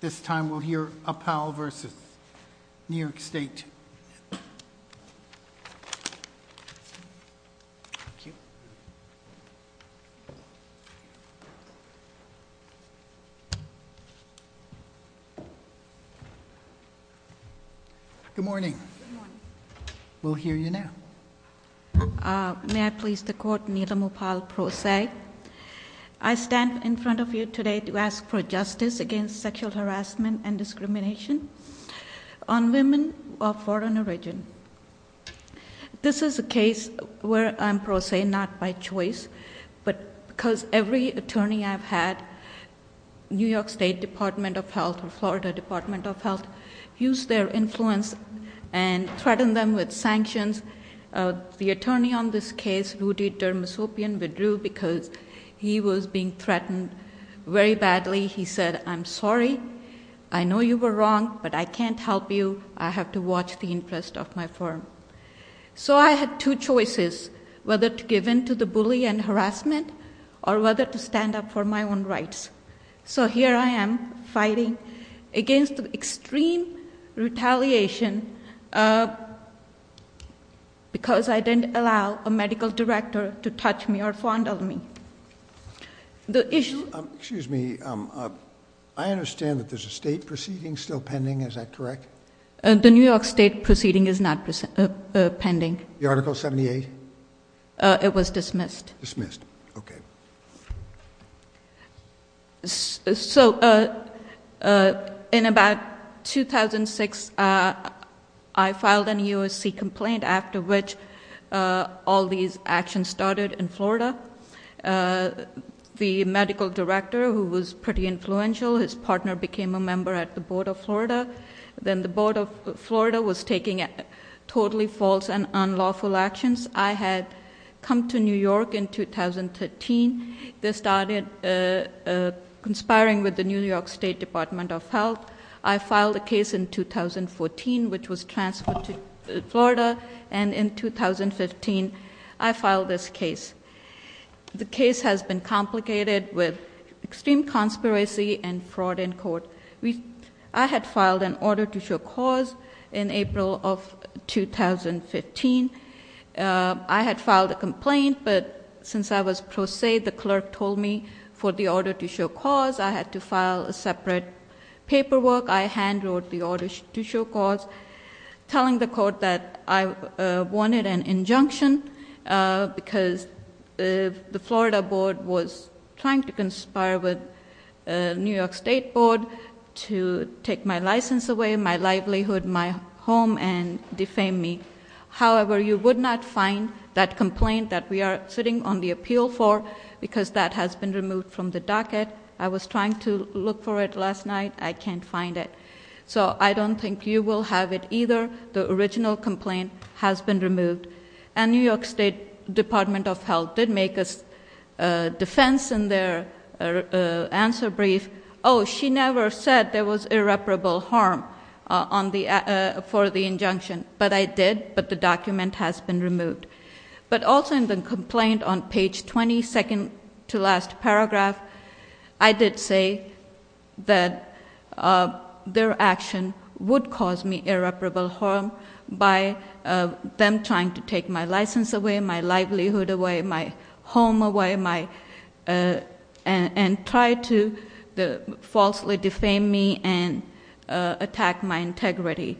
This time we'll hear Uppal v. New York State. Good morning. Good morning. We'll hear you now. May I please the court, Needham Uppal Pro Se. I stand in front of you today to ask for justice against sexual harassment and discrimination on women of foreign origin. This is a case where I'm pro se, not by choice. But because every attorney I've had, New York State Department of Health or Florida Department of Health, use their influence and threaten them with sanctions. The attorney on this case, Rudy Dermosopian, withdrew because he was being threatened very badly. He said, I'm sorry, I know you were wrong, but I can't help you, I have to watch the interest of my firm. So I had two choices, whether to give in to the bully and harassment, or whether to stand up for my own rights. So here I am, fighting against extreme retaliation. Because I didn't allow a medical director to touch me or fondle me. The issue- Excuse me, I understand that there's a state proceeding still pending, is that correct? The New York State proceeding is not pending. The article 78? It was dismissed. Dismissed, okay. So in about 2006, I filed an EOSC complaint after which all these actions started in Florida. The medical director, who was pretty influential, his partner became a member at the Board of Florida. Then the Board of Florida was taking totally false and unlawful actions. I had come to New York in 2013. They started conspiring with the New York State Department of Health. I filed a case in 2014, which was transferred to Florida, and in 2015, I filed this case. The case has been complicated with extreme conspiracy and fraud in court. I had filed an order to show cause in April of 2015. I had filed a complaint, but since I was pro se, the clerk told me for the order to show cause, I had to file a separate paperwork. I hand wrote the order to show cause, telling the court that I wanted an injunction. Because the Florida board was trying to conspire with New York State Board to take my license away, my livelihood, my home, and defame me. However, you would not find that complaint that we are sitting on the appeal for, because that has been removed from the docket. I was trying to look for it last night. I can't find it. So I don't think you will have it either. The original complaint has been removed. And New York State Department of Health did make a defense in their answer brief. She never said there was irreparable harm for the injunction. But I did, but the document has been removed. But also in the complaint on page 22nd to last paragraph, I did say that their action would cause me irreparable harm by them trying to take my license away, my livelihood away, my home away, and try to falsely defame me and attack my integrity.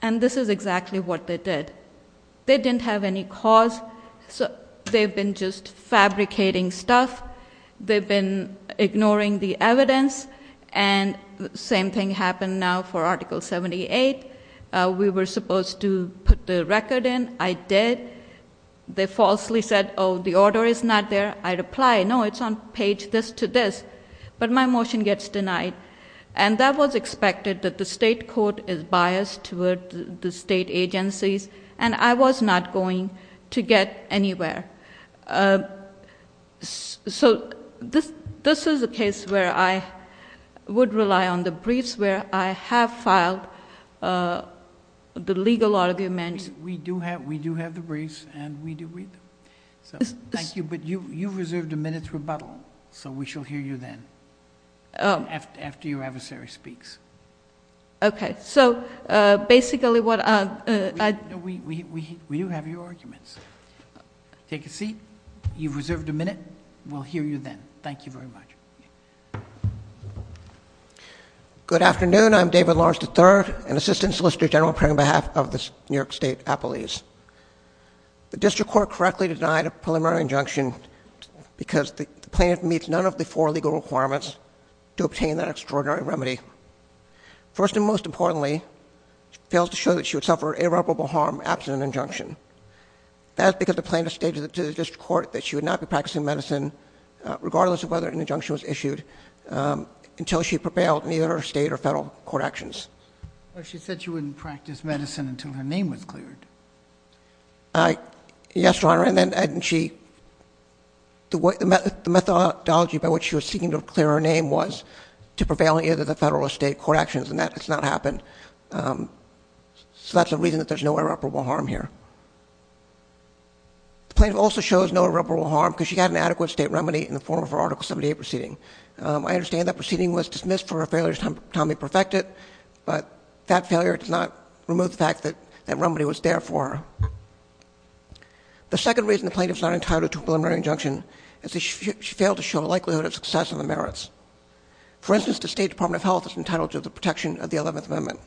And this is exactly what they did. They didn't have any cause. So they've been just fabricating stuff. They've been ignoring the evidence. And same thing happened now for Article 78. We were supposed to put the record in. I did. They falsely said, the order is not there. I replied, no, it's on page this to this. But my motion gets denied. And that was expected, that the state court is biased toward the state agencies. And I was not going to get anywhere. So this is a case where I would rely on the briefs where I have filed the legal argument. We do have the briefs, and we do read them. So thank you, but you've reserved a minute's rebuttal. So we shall hear you then, after your adversary speaks. OK. So basically what I- We do have your arguments. Take a seat. You've reserved a minute. We'll hear you then. Thank you very much. Good afternoon. I'm David Lawrence III, an assistant solicitor general appearing on behalf of the New York State Appellees. The district court correctly denied a preliminary injunction because the plaintiff meets none of the four legal requirements to obtain that extraordinary remedy. First and most importantly, she fails to show that she would suffer irreparable harm absent an injunction. That's because the plaintiff stated to the district court that she would not be practicing medicine, regardless of whether an injunction was issued, until she prevailed in either her state or federal court actions. But she said she wouldn't practice medicine until her name was cleared. Yes, Your Honor, and then she, the methodology by which she was seeking to clear her name was to prevail in either the federal or state court actions, and that has not happened. So that's a reason that there's no irreparable harm here. The plaintiff also shows no irreparable harm because she had an adequate state remedy in the form of her Article 78 proceeding. I understand that proceeding was dismissed for a failure to be perfectly perfected, but that failure does not remove the fact that that remedy was there for her. The second reason the plaintiff's not entitled to a preliminary injunction is that she failed to show a likelihood of success in the merits. For instance, the State Department of Health is entitled to the protection of the 11th Amendment.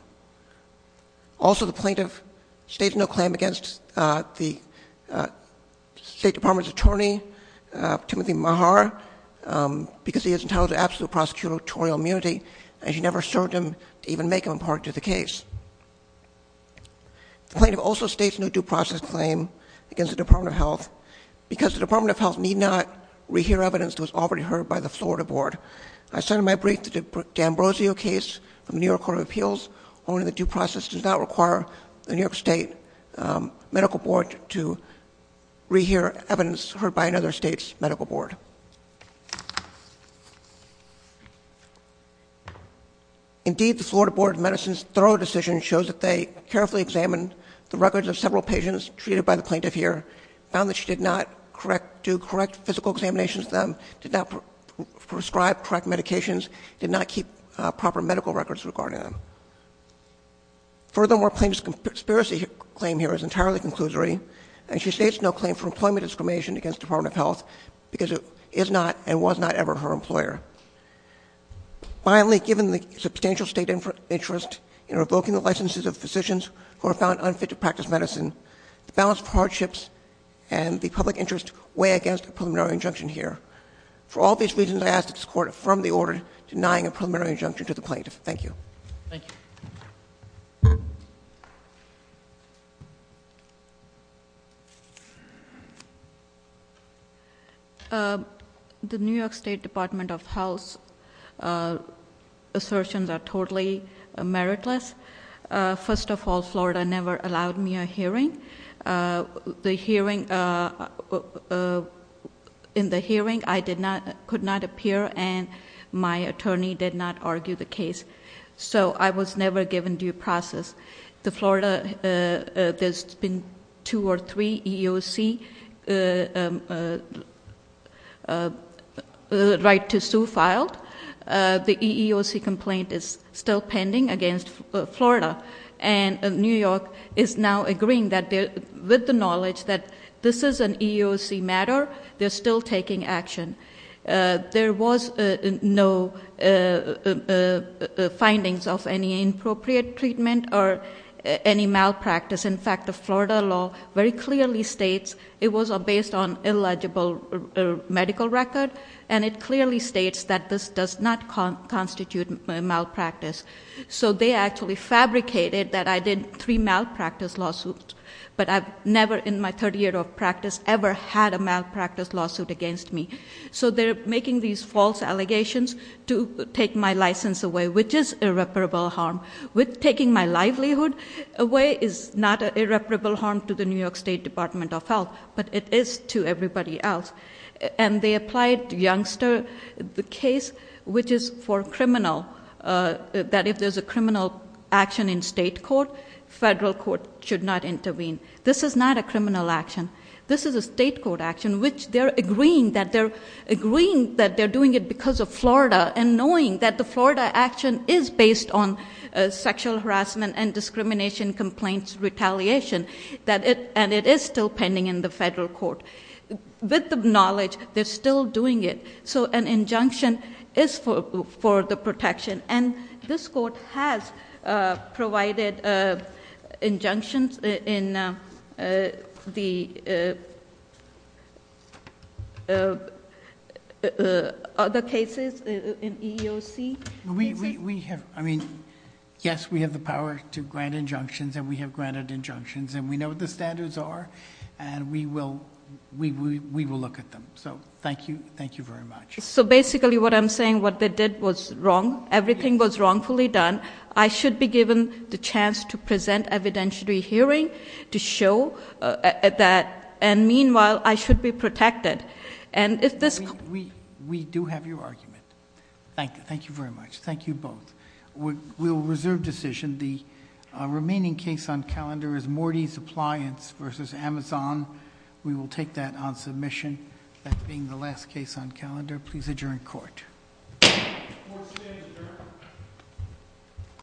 Also, the plaintiff states no claim against the State Department's attorney, Timothy Maher, because he is entitled to absolute prosecutorial immunity. And she never served him to even make him a part of the case. The plaintiff also states no due process claim against the Department of Health, because the Department of Health need not re-hear evidence that was already heard by the Florida board. I said in my brief that the D'Ambrosio case from the New York Court of Appeals, only the due process does not require the New York State Medical Board to re-hear evidence heard by another state's medical board. Indeed, the Florida Board of Medicine's thorough decision shows that they carefully examined the records of several patients treated by the plaintiff here. Found that she did not do correct physical examinations of them, did not prescribe correct medications, did not keep proper medical records regarding them. Furthermore, plaintiff's conspiracy claim here is entirely conclusory. And she states no claim for employment discrimination against Department of Health, because it is not and was not ever her employer. Finally, given the substantial state interest in revoking the licenses of physicians who are found unfit to practice medicine, the balance of hardships and the public interest weigh against a preliminary injunction here. For all these reasons, I ask that this court affirm the order denying a preliminary injunction to the plaintiff. Thank you. Thank you. The New York State Department of Health's assertions are totally meritless. First of all, Florida never allowed me a hearing. In the hearing, I could not appear, and my attorney did not argue the case. So I was never given due process. The Florida, there's been two or three EEOC complaints against me, right to sue filed. The EEOC complaint is still pending against Florida. And New York is now agreeing that with the knowledge that this is an EEOC matter, they're still taking action. There was no findings of any inappropriate treatment or any malpractice. In fact, the Florida law very clearly states it was based on illegible medical record. And it clearly states that this does not constitute malpractice. So they actually fabricated that I did three malpractice lawsuits. But I've never in my 30 year of practice ever had a malpractice lawsuit against me. So they're making these false allegations to take my license away, which is irreparable harm. With taking my livelihood away is not an irreparable harm to the New York State Department of Health, but it is to everybody else. And they applied Youngster, the case which is for criminal, that if there's a criminal action in state court, federal court should not intervene. This is not a criminal action. This is a state court action, which they're agreeing that they're doing it because of Florida. And knowing that the Florida action is based on sexual harassment and discrimination complaints retaliation. And it is still pending in the federal court. With the knowledge, they're still doing it. So an injunction is for the protection. And this court has provided injunctions in the other cases in EEOC. We have, I mean, yes, we have the power to grant injunctions, and we have granted injunctions. And we know what the standards are, and we will look at them. So thank you, thank you very much. So basically what I'm saying, what they did was wrong. Everything was wrongfully done. I should be given the chance to present evidentiary hearing to show that. And meanwhile, I should be protected. And if this- We do have your argument. Thank you, thank you very much. Thank you both. We'll reserve decision. The remaining case on calendar is Morty's Appliance versus Amazon. We will take that on submission as being the last case on calendar. Please adjourn court. Court is adjourned.